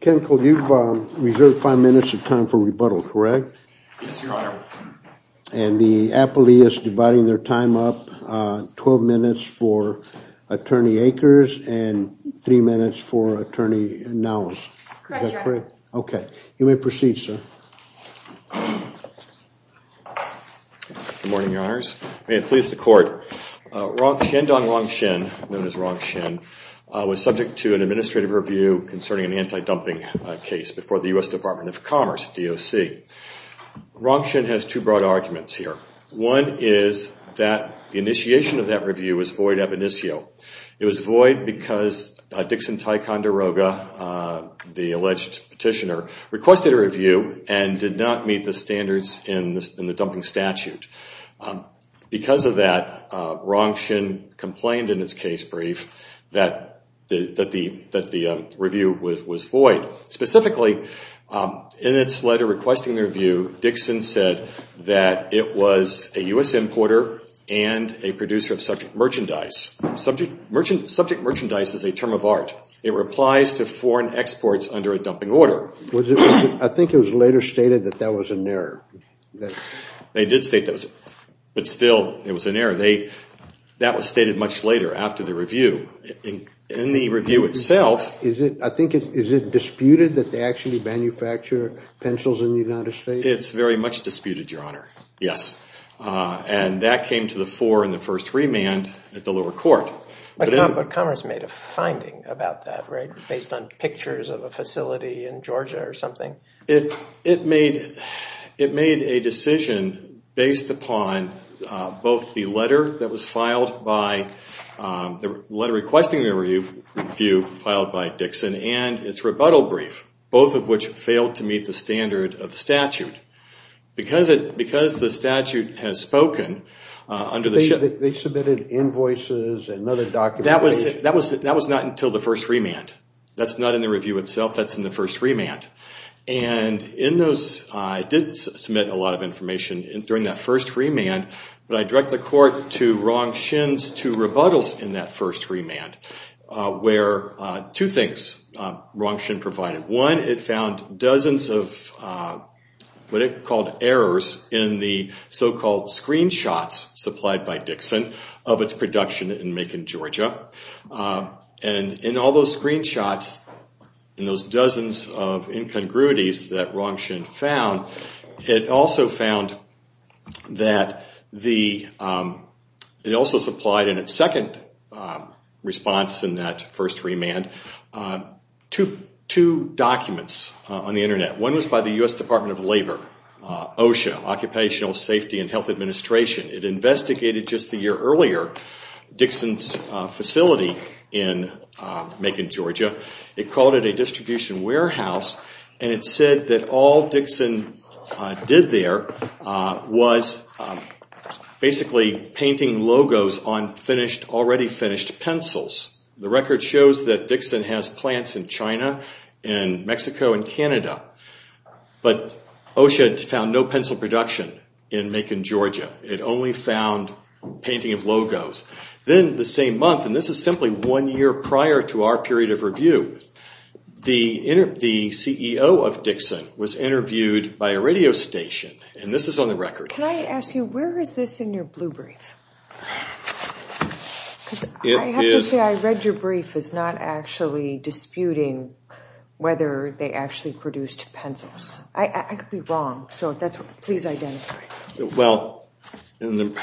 Councilor, you've reserved five minutes of time for rebuttal, correct? Yes, Your Honor. And the appellee is dividing their time up, 12 minutes for Attorney Akers and three minutes for Attorney Nowes. Correct, Your Honor. Okay. You may proceed, sir. Good morning, Your Honors. May it please the Court, Shandong Rongxin, known as Rongxin, was subject to an administrative review concerning an anti-dumping case before the U.S. Department of Commerce, DOC. Rongxin has two broad arguments here. One is that the initiation of that review was void ab initio. It was void because Dixon Ticonderoga, the alleged petitioner, requested a review and did not meet the standards in the dumping statute. Because of that, Rongxin complained in his case brief that the review was void. Specifically, in its letter requesting the review, Dixon said that it was a U.S. importer and a producer of subject merchandise. Subject merchandise is a term of art. It applies to foreign exports under a dumping order. I think it was later stated that that was an error. They did state that. But still, it was an error. That was stated much later after the review. In the review itself... I think, is it disputed that they actually manufacture pencils in the United States? It's very much disputed, Your Honor. Yes. And that came to the fore in the first remand at the lower court. But Commerce made a finding about that, right? Based on pictures of a facility in Georgia or something? It made a decision based upon both the letter that was filed by... The letter requesting the review filed by Dixon and its rebuttal brief, both of which failed to meet the standard of the statute. Because the statute has spoken under the... They submitted invoices and other documents... That was not until the first remand. That's not in the review itself. That's in the first remand. And in those, it did submit a lot of information during that first remand. But I direct the court to Rong Xin's two rebuttals in that first remand, where two things Rong Xin provided. One, it found dozens of what it called errors in the so-called screenshots supplied by Dixon of its production in Macon, Georgia. And in all those screenshots, in those dozens of incongruities that Rong Xin found, it also found that the... It also supplied in its second response in that first remand, two documents on the internet. One was by the U.S. Department of Labor, OSHA, Occupational Safety and Health Administration. It investigated just a year earlier Dixon's facility in Macon, Georgia. It called it a distribution warehouse. And it said that all Dixon did there was basically painting logos on already finished pencils. The record shows that Dixon has plants in China and Mexico and Canada. But OSHA found no pencil production in Macon, Georgia. It only found painting of logos. Then the same month, and this is simply one year prior to our period of review, the CEO of Dixon was interviewed by a radio station. And this is on the record. Can I ask you, where is this in your blue brief? Because I have to say, I read your brief. It's not actually disputing whether they actually produced pencils. I could be wrong. So that's what... Please identify. Well, in the...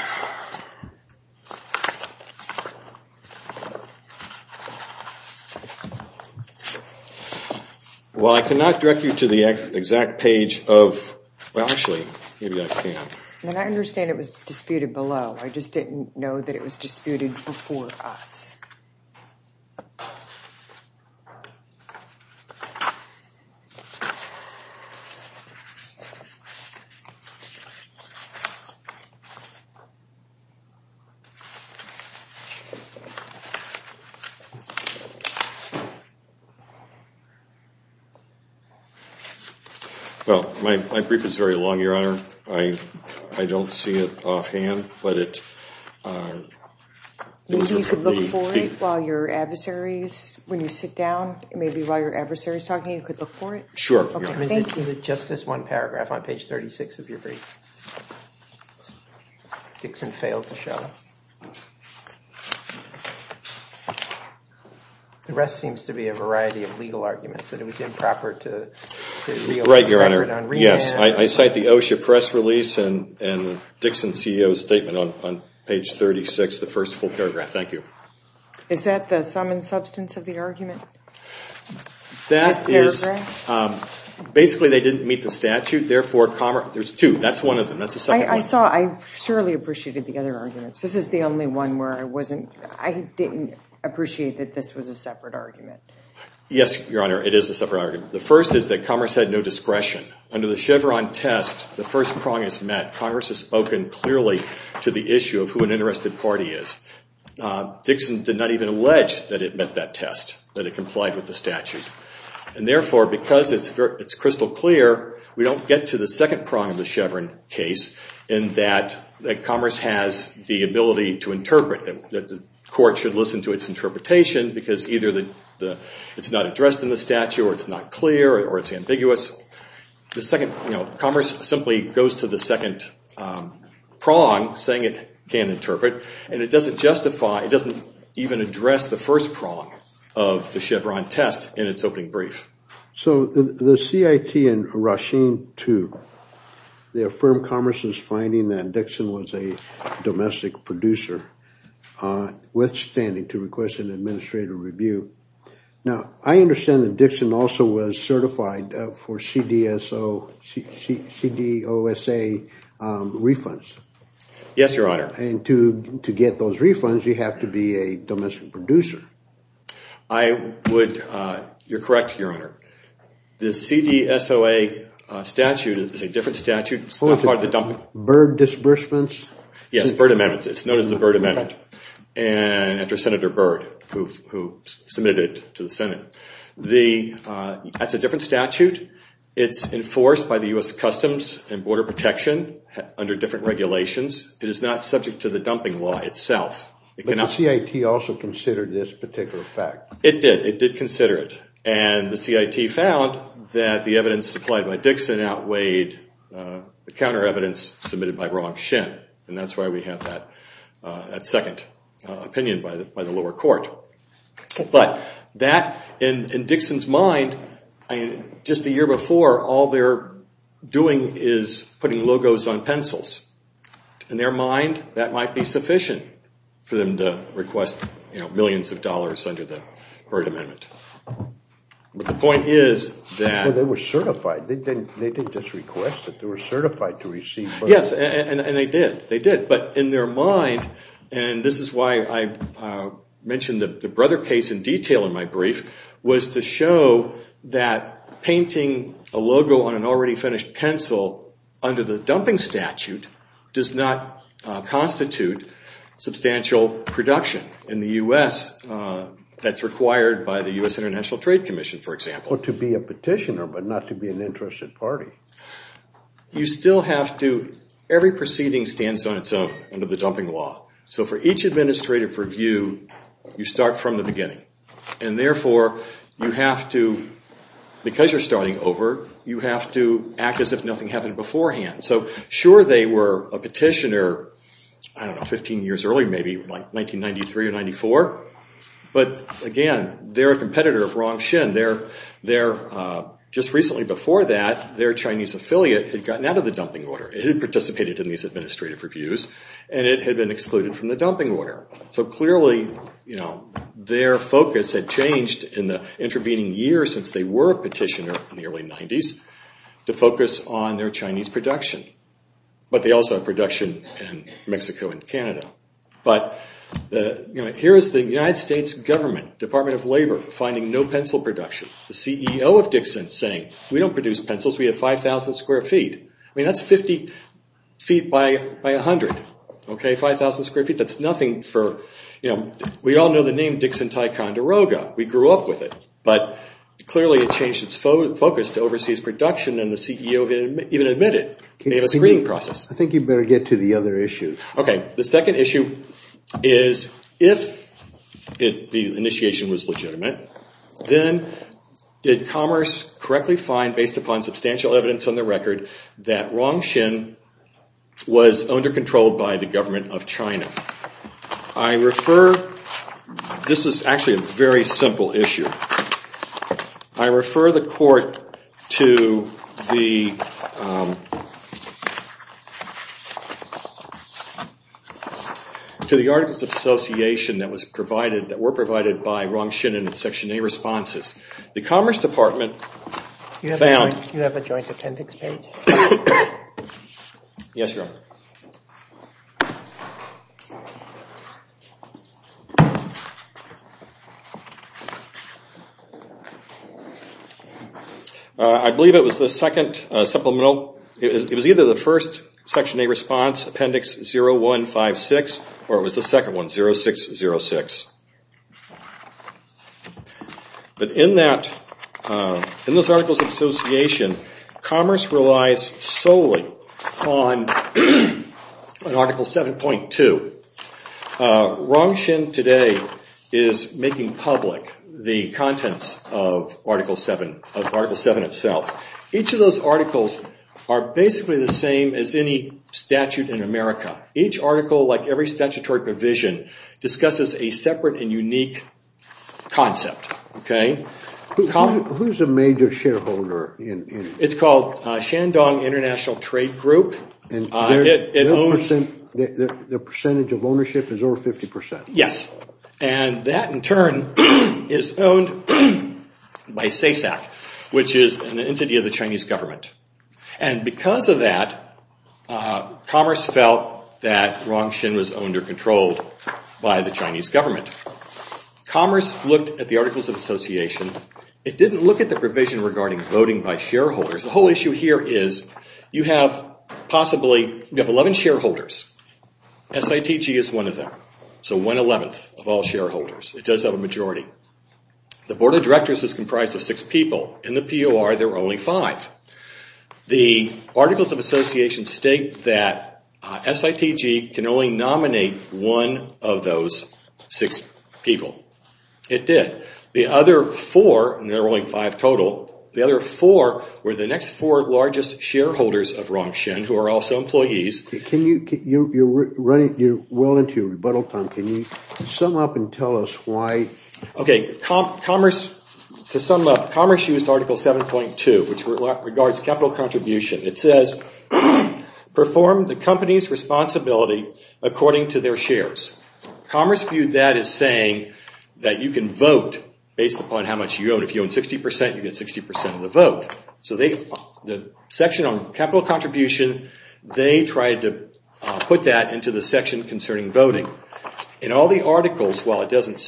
Well, I cannot direct you to the exact page of... And I understand it was disputed below. I just didn't know that it was disputed before us. Well, my brief is very long, Your Honor. I don't see it offhand, but it... Maybe you could look for it while your adversaries... When you sit down, maybe while your adversary is talking, you could look for it? Sure. Okay, thank you. Is it just this one paragraph on page 36 of your brief? Dixon failed to show. The rest seems to be a variety of legal arguments that it was improper to... Right, Your Honor. Yes, I cite the OSHA press release and Dixon CEO's statement on page 36, the first full paragraph. Thank you. Is that the sum and substance of the argument? That is... Basically, they didn't meet the statute. Therefore, Commerce... There's two. That's one of them. That's the second one. I saw... I surely appreciated the other arguments. This is the only one where I wasn't... I didn't appreciate that this was a separate argument. Yes, Your Honor. It is a separate argument. The first is that Commerce had no discretion. Under the Chevron test, the first prong is met. Congress has spoken clearly to the issue of who an interested party is. Dixon did not even allege that it met that test, that it complied with the statute. And therefore, because it's crystal clear, we don't get to the second prong of the Chevron case in that Commerce has the ability to interpret, that the court should listen to its interpretation because either it's not addressed in the statute, or it's not clear, or it's ambiguous. The second... Commerce simply goes to the second prong, saying it can interpret. And it doesn't justify... It doesn't even address the first prong of the Chevron test in its opening brief. So, the CIT and Rasheen, too, they affirm Commerce's finding that Dixon was a domestic producer, withstanding to request an administrative review. Now, I understand that Dixon also was certified for CDOSA refunds. Yes, Your Honor. And to get those refunds, you have to be a domestic producer. I would... You're correct, Your Honor. The CDSOA statute is a different statute. It's not part of the dumping... BIRD disbursements? Yes, BIRD amendments. It's known as the BIRD amendment. And after Senator BIRD, who submitted it to the Senate. That's a different statute. It's enforced by the U.S. Customs and Border Protection under different regulations. It is not subject to the dumping law itself. But the CIT also considered this particular fact. It did. It did consider it. And the CIT found that the evidence supplied by Dixon outweighed the counter evidence submitted by Ron Shin. And that's why we have that second opinion by the lower court. But that, in Dixon's mind, just a year before, all they're doing is putting logos on pencils. In their mind, that might be sufficient for them to request millions of dollars under the BIRD amendment. But the point is that... Well, they were certified. They didn't just request it. They were certified to receive... Yes, and they did. They did. But in their mind, and this is why I mentioned the Brother case in detail in my brief, was to show that painting a logo on an already finished pencil under the dumping statute does not constitute substantial production in the U.S. that's required by the U.S. International Trade Commission, for example. To be a petitioner, but not to be an interested party. You still have to... Every proceeding stands on its own under the dumping law. So for each administrative review, you start from the beginning. And therefore, you have to... Because you're starting over, you have to act as if nothing happened beforehand. So sure, they were a petitioner, I don't know, 15 years earlier, maybe, like 1993 or 94. But again, they're a competitor of Ron Shin. Their... Just recently before that, their Chinese affiliate had gotten out of the dumping order. It had participated in these administrative reviews, and it had been excluded from the dumping order. So clearly, their focus had changed in the intervening years since they were a petitioner in the early 90s, to focus on their Chinese production. But they also have production in Mexico and Canada. But here's the United States government, Department of Labor, finding no pencil production. The CEO of Dixon saying, we don't produce pencils, we have 5,000 square feet. I mean, that's 50 feet by 100, okay? 5,000 square feet, that's nothing for... We all know the name Dixon Ticonderoga. We grew up with it. But clearly, it changed its focus to overseas production, and the CEO didn't even admit it. They have a screening process. I think you better get to the other issue. Okay, the second issue is, if the initiation was legitimate, then did Commerce correctly find, based upon substantial evidence on the record, that Rongxin was under control by the government of China? I refer... This is actually a very simple issue. I refer the court to the... To the articles of association that were provided by Rongxin in its Section A responses. The Commerce Department found... Do you have a joint appendix page? Yes, Your Honor. I believe it was the second supplemental... It was either the first Section A response, appendix 0156, or it was the second one, 0606. But in that... In those articles of association, Commerce relies solely on Article 7.2. Rongxin today is making public the contents of Article 7 itself. Each of those articles are basically the same as any statute in America. Each article, like every statutory provision, discusses a separate and unique concept. Who's a major shareholder? It's called Shandong International Trade Group. The percentage of ownership is over 50%? Yes, and that in turn... Is owned by SESAC, which is an entity of the Chinese government. And because of that, Commerce felt that Rongxin was owned or controlled by the Chinese government. Commerce looked at the articles of association. It didn't look at the provision regarding voting by shareholders. The whole issue here is, you have possibly... You have 11 shareholders. SITG is one of them. So 1 11th of all shareholders. It does have a majority. The board of directors is comprised of 6 people. In the POR, there were only 5. The articles of association state that SITG can only nominate one of those 6 people. It did. The other 4, and there were only 5 total, the other 4 were the next 4 largest shareholders of Rongxin, who are also employees. Can you... You're well into your rebuttal time. Can you sum up and tell us why? Okay, Commerce used Article 7.2, which regards capital contribution. It says, Perform the company's responsibility according to their shares. Commerce viewed that as saying that you can vote based upon how much you own. If you own 60%, you get 60% of the vote. So the section on capital contribution, they tried to put that into the section concerning voting. In all the articles, it doesn't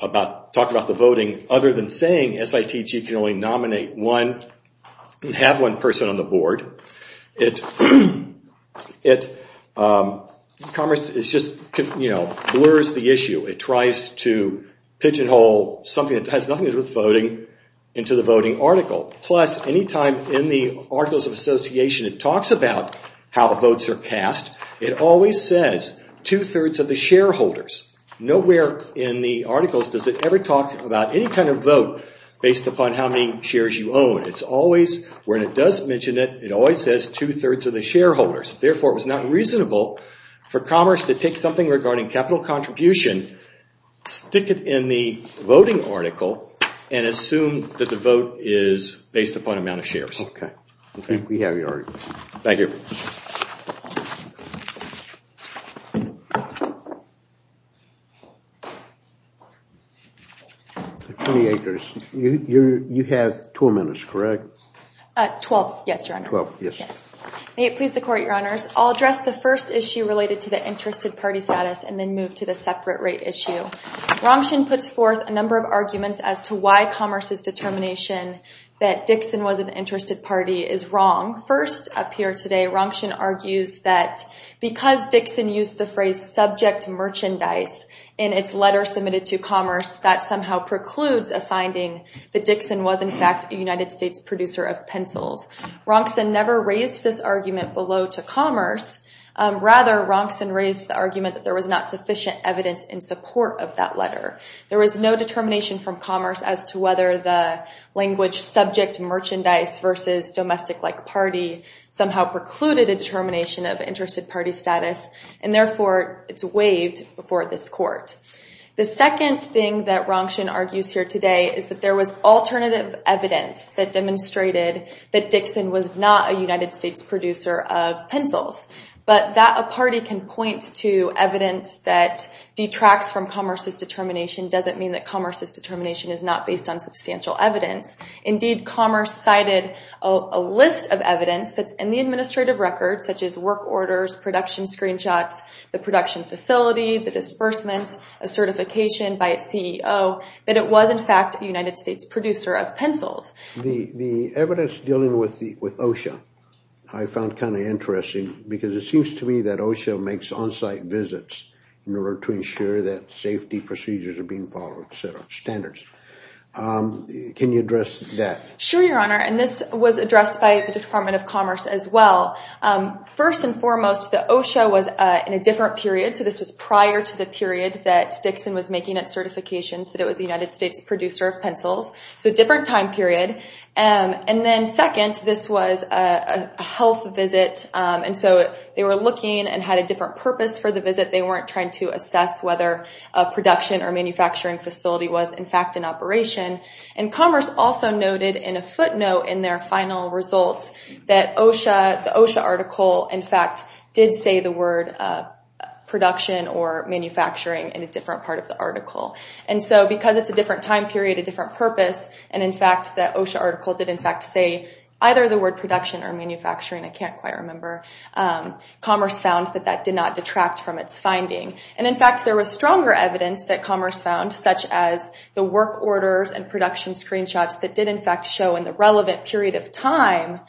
talk about the voting, other than saying SITG can only nominate one, and have one person on the board. Commerce just blurs the issue. It tries to pigeonhole something that has nothing to do with voting into the voting article. Plus, any time in the articles of association it talks about how votes are cast, it always says, two-thirds of the shareholders. Nowhere in the articles does it ever talk about any kind of vote based upon how many shares you own. It's always, when it does mention it, it always says two-thirds of the shareholders. Therefore, it was not reasonable for Commerce to take something regarding capital contribution, stick it in the voting article, and assume that the vote is based upon amount of shares. Okay, we have your argument. Thank you. Attorney Akers, you have 12 minutes, correct? 12, yes, your honor. 12, yes. May it please the court, your honors. I'll address the first issue related to the interested party status, and then move to the separate rate issue. Rongshun puts forth a number of arguments as to why Commerce's determination that Dixon was an interested party is wrong. First, up here today, Rongshun argues that because Dixon used the phrase subject merchandise in its letter submitted to Commerce, that somehow precludes a finding that Dixon was, in fact, a United States producer of pencils. Rongshun never raised this argument below to Commerce. Rather, Rongshun raised the argument that there was not sufficient evidence in support of that letter. as to whether the language subject merchandise versus domestic-like party somehow precluded a determination of interested party status, and therefore, it's waived before this court. The second thing that Rongshun argues here today is that there was alternative evidence that demonstrated that Dixon was not a United States producer of pencils. But that a party can point to evidence that detracts from Commerce's determination doesn't mean that Commerce's determination is not based on substantial evidence. Indeed, Commerce cited a list of evidence that's in the administrative record, such as work orders, production screenshots, the production facility, the disbursements, a certification by its CEO, that it was, in fact, a United States producer of pencils. The evidence dealing with OSHA I found kind of interesting because it seems to me that OSHA makes on-site visits in order to ensure that safety procedures are being followed, et cetera, standards. Can you address that? Sure, Your Honor. And this was addressed by the Department of Commerce as well. First and foremost, the OSHA was in a different period. So this was prior to the period that Dixon was making its certifications that it was a United States producer of pencils. So a different time period. And then second, this was a health visit. And so they were looking and had a different purpose for the visit. They weren't trying to assess whether a production or manufacturing facility was, in fact, in operation. And Commerce also noted in a footnote in their final results that the OSHA article, in fact, did say the word production or manufacturing in a different part of the article. And so because it's a different time period, a different purpose, and in fact, that OSHA article did, in fact, say either the word production or manufacturing, I can't quite remember. Commerce found that that did not detract from its finding. And in fact, there was stronger evidence that Commerce found, such as the work orders and production screenshots that did, in fact, show in the relevant period of time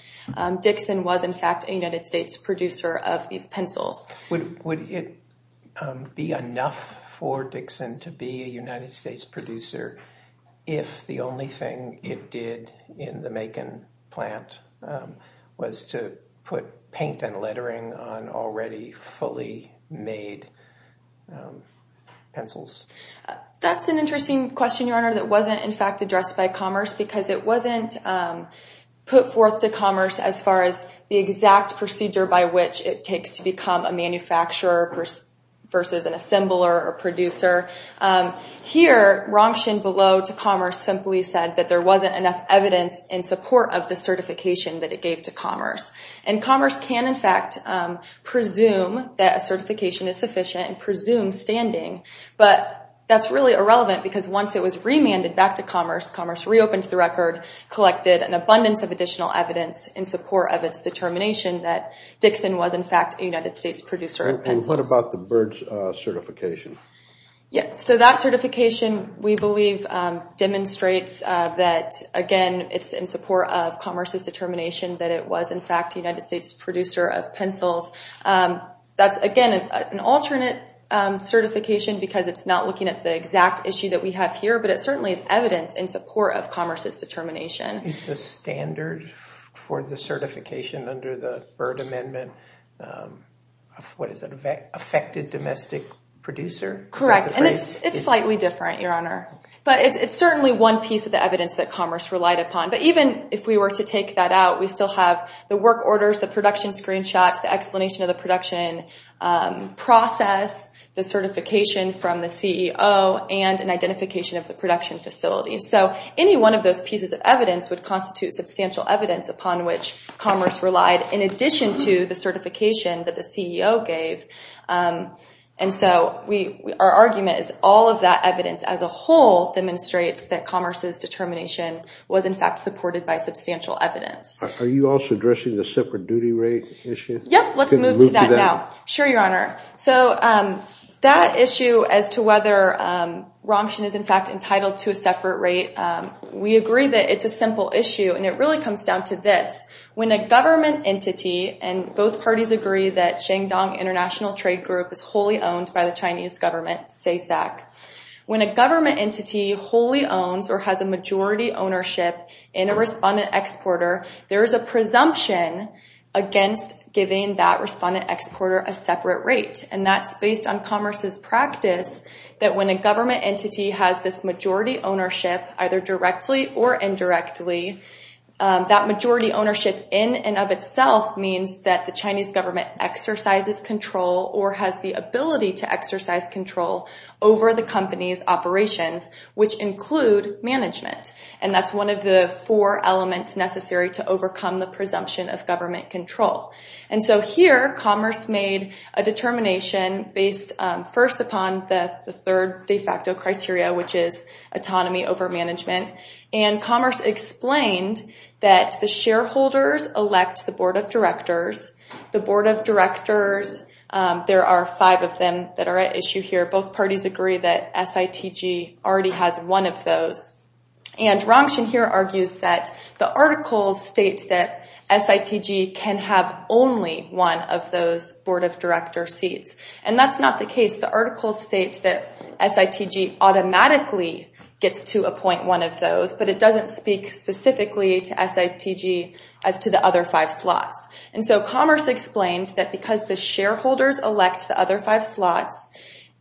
Dixon was, in fact, a United States producer of these pencils. Would it be enough for Dixon to be a United States producer if the only thing it did in the Macon plant was to put paint and lettering on already fully made pencils? That's an interesting question, Your Honor. That wasn't, in fact, addressed by Commerce because it wasn't put forth to Commerce as far as the exact procedure by which it takes to become a manufacturer versus an assembler or producer. Here, Ramshin below to Commerce simply said that there wasn't enough evidence in support of the certification that it gave to Commerce. And Commerce can, in fact, presume that a certification is sufficient and presume standing. But that's really irrelevant because once it was remanded back to Commerce, Commerce reopened the record, collected an abundance of additional evidence, in support of its determination that Dixon was, in fact, a United States producer of pencils. And what about the Byrds certification? Yeah, so that certification, we believe, demonstrates that, again, it's in support of Commerce's determination that it was, in fact, a United States producer of pencils. That's, again, an alternate certification because it's not looking at the exact issue that we have here, but it certainly is evidence in support of Commerce's determination. Is the standard for the certification under the Byrd Amendment, what is it, affected domestic producer? Correct. And it's slightly different, Your Honor. But it's certainly one piece of the evidence that Commerce relied upon. But even if we were to take that out, we still have the work orders, the production screenshots, the explanation of the production process, the certification from the CEO, and an identification of the production facility. So any one of those pieces of evidence would constitute substantial evidence upon which Commerce relied, in addition to the certification that the CEO gave. And so our argument is all of that evidence as a whole demonstrates that Commerce's determination was, in fact, supported by substantial evidence. Are you also addressing the separate duty rate issue? Yep. Let's move to that now. Sure, Your Honor. So that issue as to whether Ramshin is, in fact, entitled to a separate rate, we agree that it's a simple issue. And it really comes down to this. When a government entity, and both parties agree that Shandong International Trade Group is wholly owned by the Chinese government, SESAC, when a government entity wholly owns or has a majority ownership in a respondent exporter, there is a presumption against giving that respondent exporter a separate rate. And that's based on Commerce's practice that when a government entity has this majority ownership, either directly or indirectly, that majority ownership in and of itself means that the Chinese government exercises control or has the ability to exercise control over the company's operations, which include management. And that's one of the four elements necessary to overcome the presumption of government control. And so here Commerce made a determination based first upon the third de facto criteria, which is autonomy over management. And Commerce explained that the shareholders elect the board of directors. The board of directors, there are five of them that are at issue here. Both parties agree that SITG already has one of those. And Rongxin here argues that the articles state that SITG can have only one of those board of director seats. And that's not the case. The article states that SITG automatically gets to appoint one of those, but it doesn't speak specifically to SITG as to the other five slots. And so Commerce explained that because the shareholders elect the other five slots,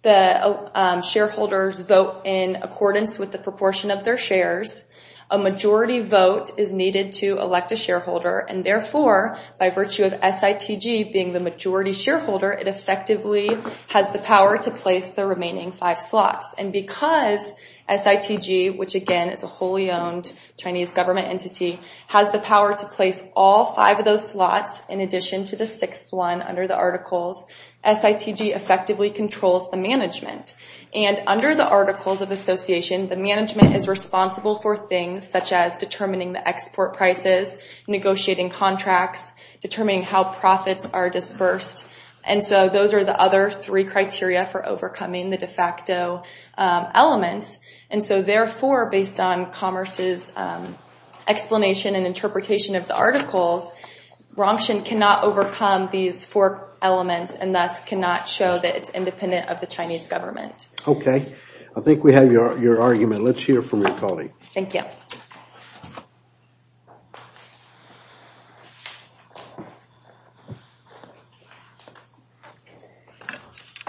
the shareholders vote in accordance with the proportion of their shares. A majority vote is needed to elect a shareholder. And therefore, by virtue of SITG being the majority shareholder, it effectively has the power to place the remaining five slots. And because SITG, which again is a wholly-owned Chinese government entity, has the power to place all five of those slots in addition to the sixth one under the articles, SITG effectively controls the management. And under the Articles of Association, the management is responsible for things such as determining the export prices, negotiating contracts, determining how profits are dispersed. And so those are the other three criteria for overcoming the de facto elements. And so therefore, based on Commerce's explanation and interpretation of the articles, Rongxian cannot overcome these four elements and thus cannot show that it's independent of the Chinese government. OK, I think we have your argument. Let's hear from your colleague. Thank you.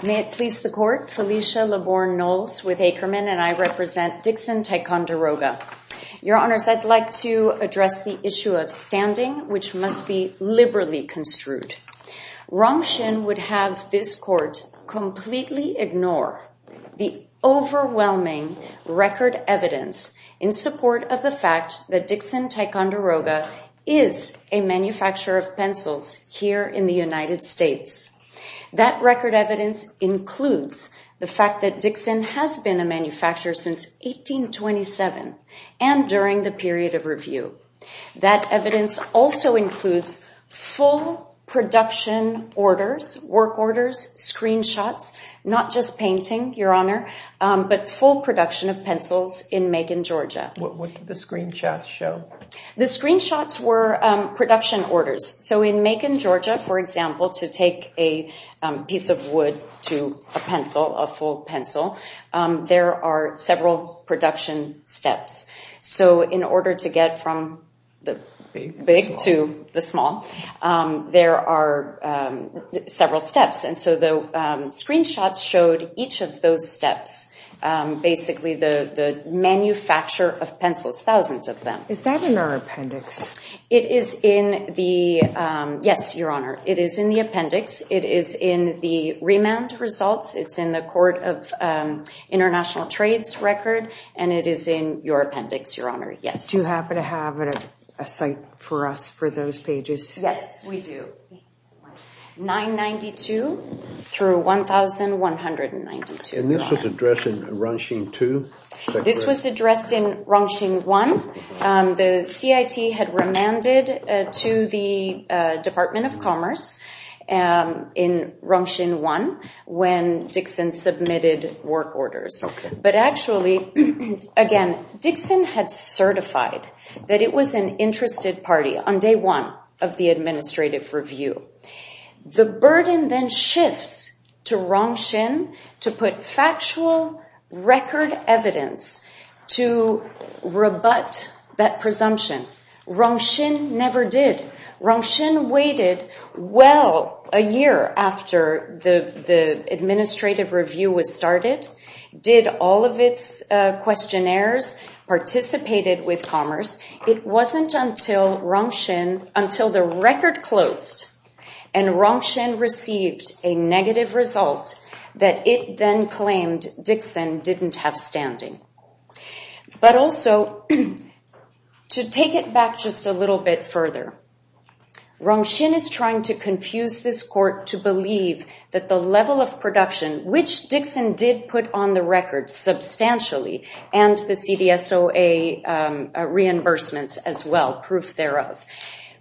May it please the Court, Felicia Laborne Knowles with Ackerman, and I represent Dixon Ticonderoga. Your Honors, I'd like to address the issue of standing, which must be liberally construed. Rongxian would have this Court completely ignore the overwhelming record evidence in support of the fact that Dixon Ticonderoga is a manufacturer of pencils here in the United States. That record evidence includes the fact that Dixon has been a manufacturer since 1827 and during the period of review. That evidence also includes full production orders, work orders, screenshots, not just painting, Your Honor, but full production of pencils in Macon, Georgia. What did the screenshots show? The screenshots were production orders. So in Macon, Georgia, for example, to take a piece of wood to a pencil, a full pencil, there are several production steps. So in order to get from the big to the small, there are several steps. And so the screenshots showed each of those steps, basically the manufacturer of pencils, thousands of them. Is that in our appendix? It is in the... Yes, Your Honor. It is in the appendix. It is in the remand results. It's in the Court of International Trades record and it is in your appendix, Your Honor. Yes. Do you happen to have a site for us for those pages? Yes, we do. 992 through 1192. And this was addressed in Rongxing 2? This was addressed in Rongxing 1. The CIT had remanded to the Department of Commerce in Rongxing 1 when Dixon submitted work orders. But actually, again, Dixon had certified that it was an interested party on day one of the administrative review. The burden then shifts to Rongxing to put factual record evidence to rebut that presumption. Rongxing never did. Rongxing waited well a year after the administrative review was started, did all of its questionnaires, participated with commerce. It wasn't until Rongxing, until the record closed and Rongxing received a negative result that it then claimed Dixon didn't have standing. But also to take it back just a little bit further, Rongxing is trying to confuse this court to believe that the level of production, which Dixon did put on the record substantially and the CDSOA reimbursements as well, proof thereof.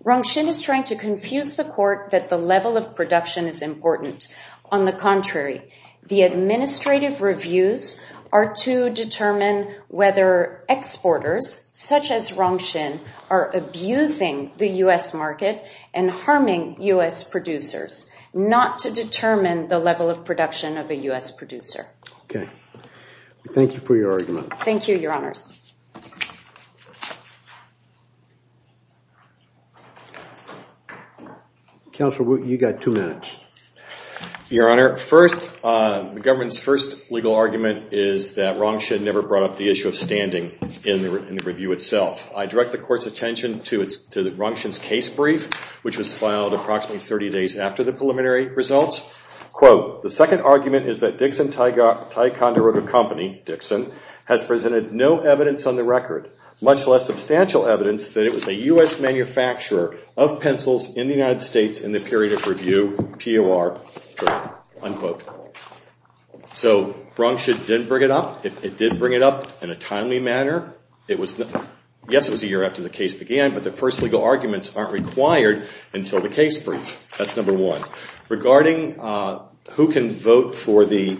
Rongxing is trying to confuse the court that the level of production is important. On the contrary, the administrative reviews are to determine whether exporters, such as Rongxing, are abusing the U.S. market and harming U.S. producers, not to determine the level of production of a U.S. producer. Okay. Thank you for your argument. Thank you, Your Honors. Counselor Wu, you got two minutes. Your Honor, first, the government's first legal argument is that Rongxing never brought up the issue of standing in the review itself. I direct the court's attention to Rongxing's case brief, which was filed approximately 30 days after the preliminary results. The second argument is that Dixon Ticonderoga Company, Dixon, has presented no evidence on the record, much less substantial evidence that it was a U.S. manufacturer of pencils in the United States in the period of review, POR. So Rongxing did bring it up. It did bring it up in a timely manner. Yes, it was a year after the case began, but the first legal arguments aren't required until the case brief. That's number one. Regarding who can vote for the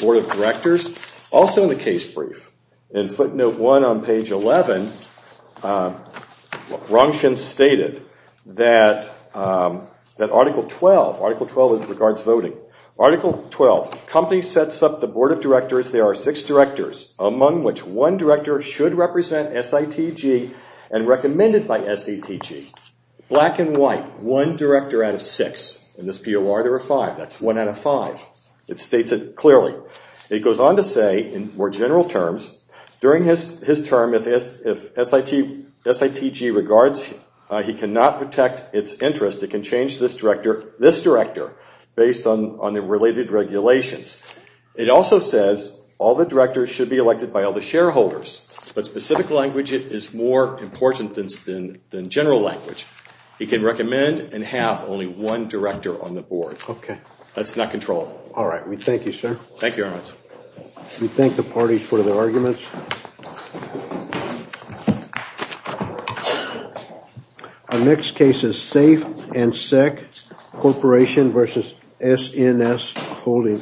Board of Directors, also in the case brief, in footnote one on page 11, Rongxing stated that Article 12, Article 12 regards voting. Article 12, Company sets up the Board of Directors. There are six directors, among which one director should represent SITG and recommended by SITG. Black and white, one director out of six. In this POR, there are five. That's one out of five. It states it clearly. It goes on to say, in more general terms, during his term, if SITG regards, he cannot protect its interest, it can change this director based on the related regulations. It also says all the directors should be elected by all the shareholders, but specific language is more important than general language. He can recommend and have only one director on the board. That's not controlled. All right, we thank you, sir. Thank you, Ernst. We thank the parties for their arguments. Our next case is Safe and Sick, Corporation versus SNS Holding, LLC.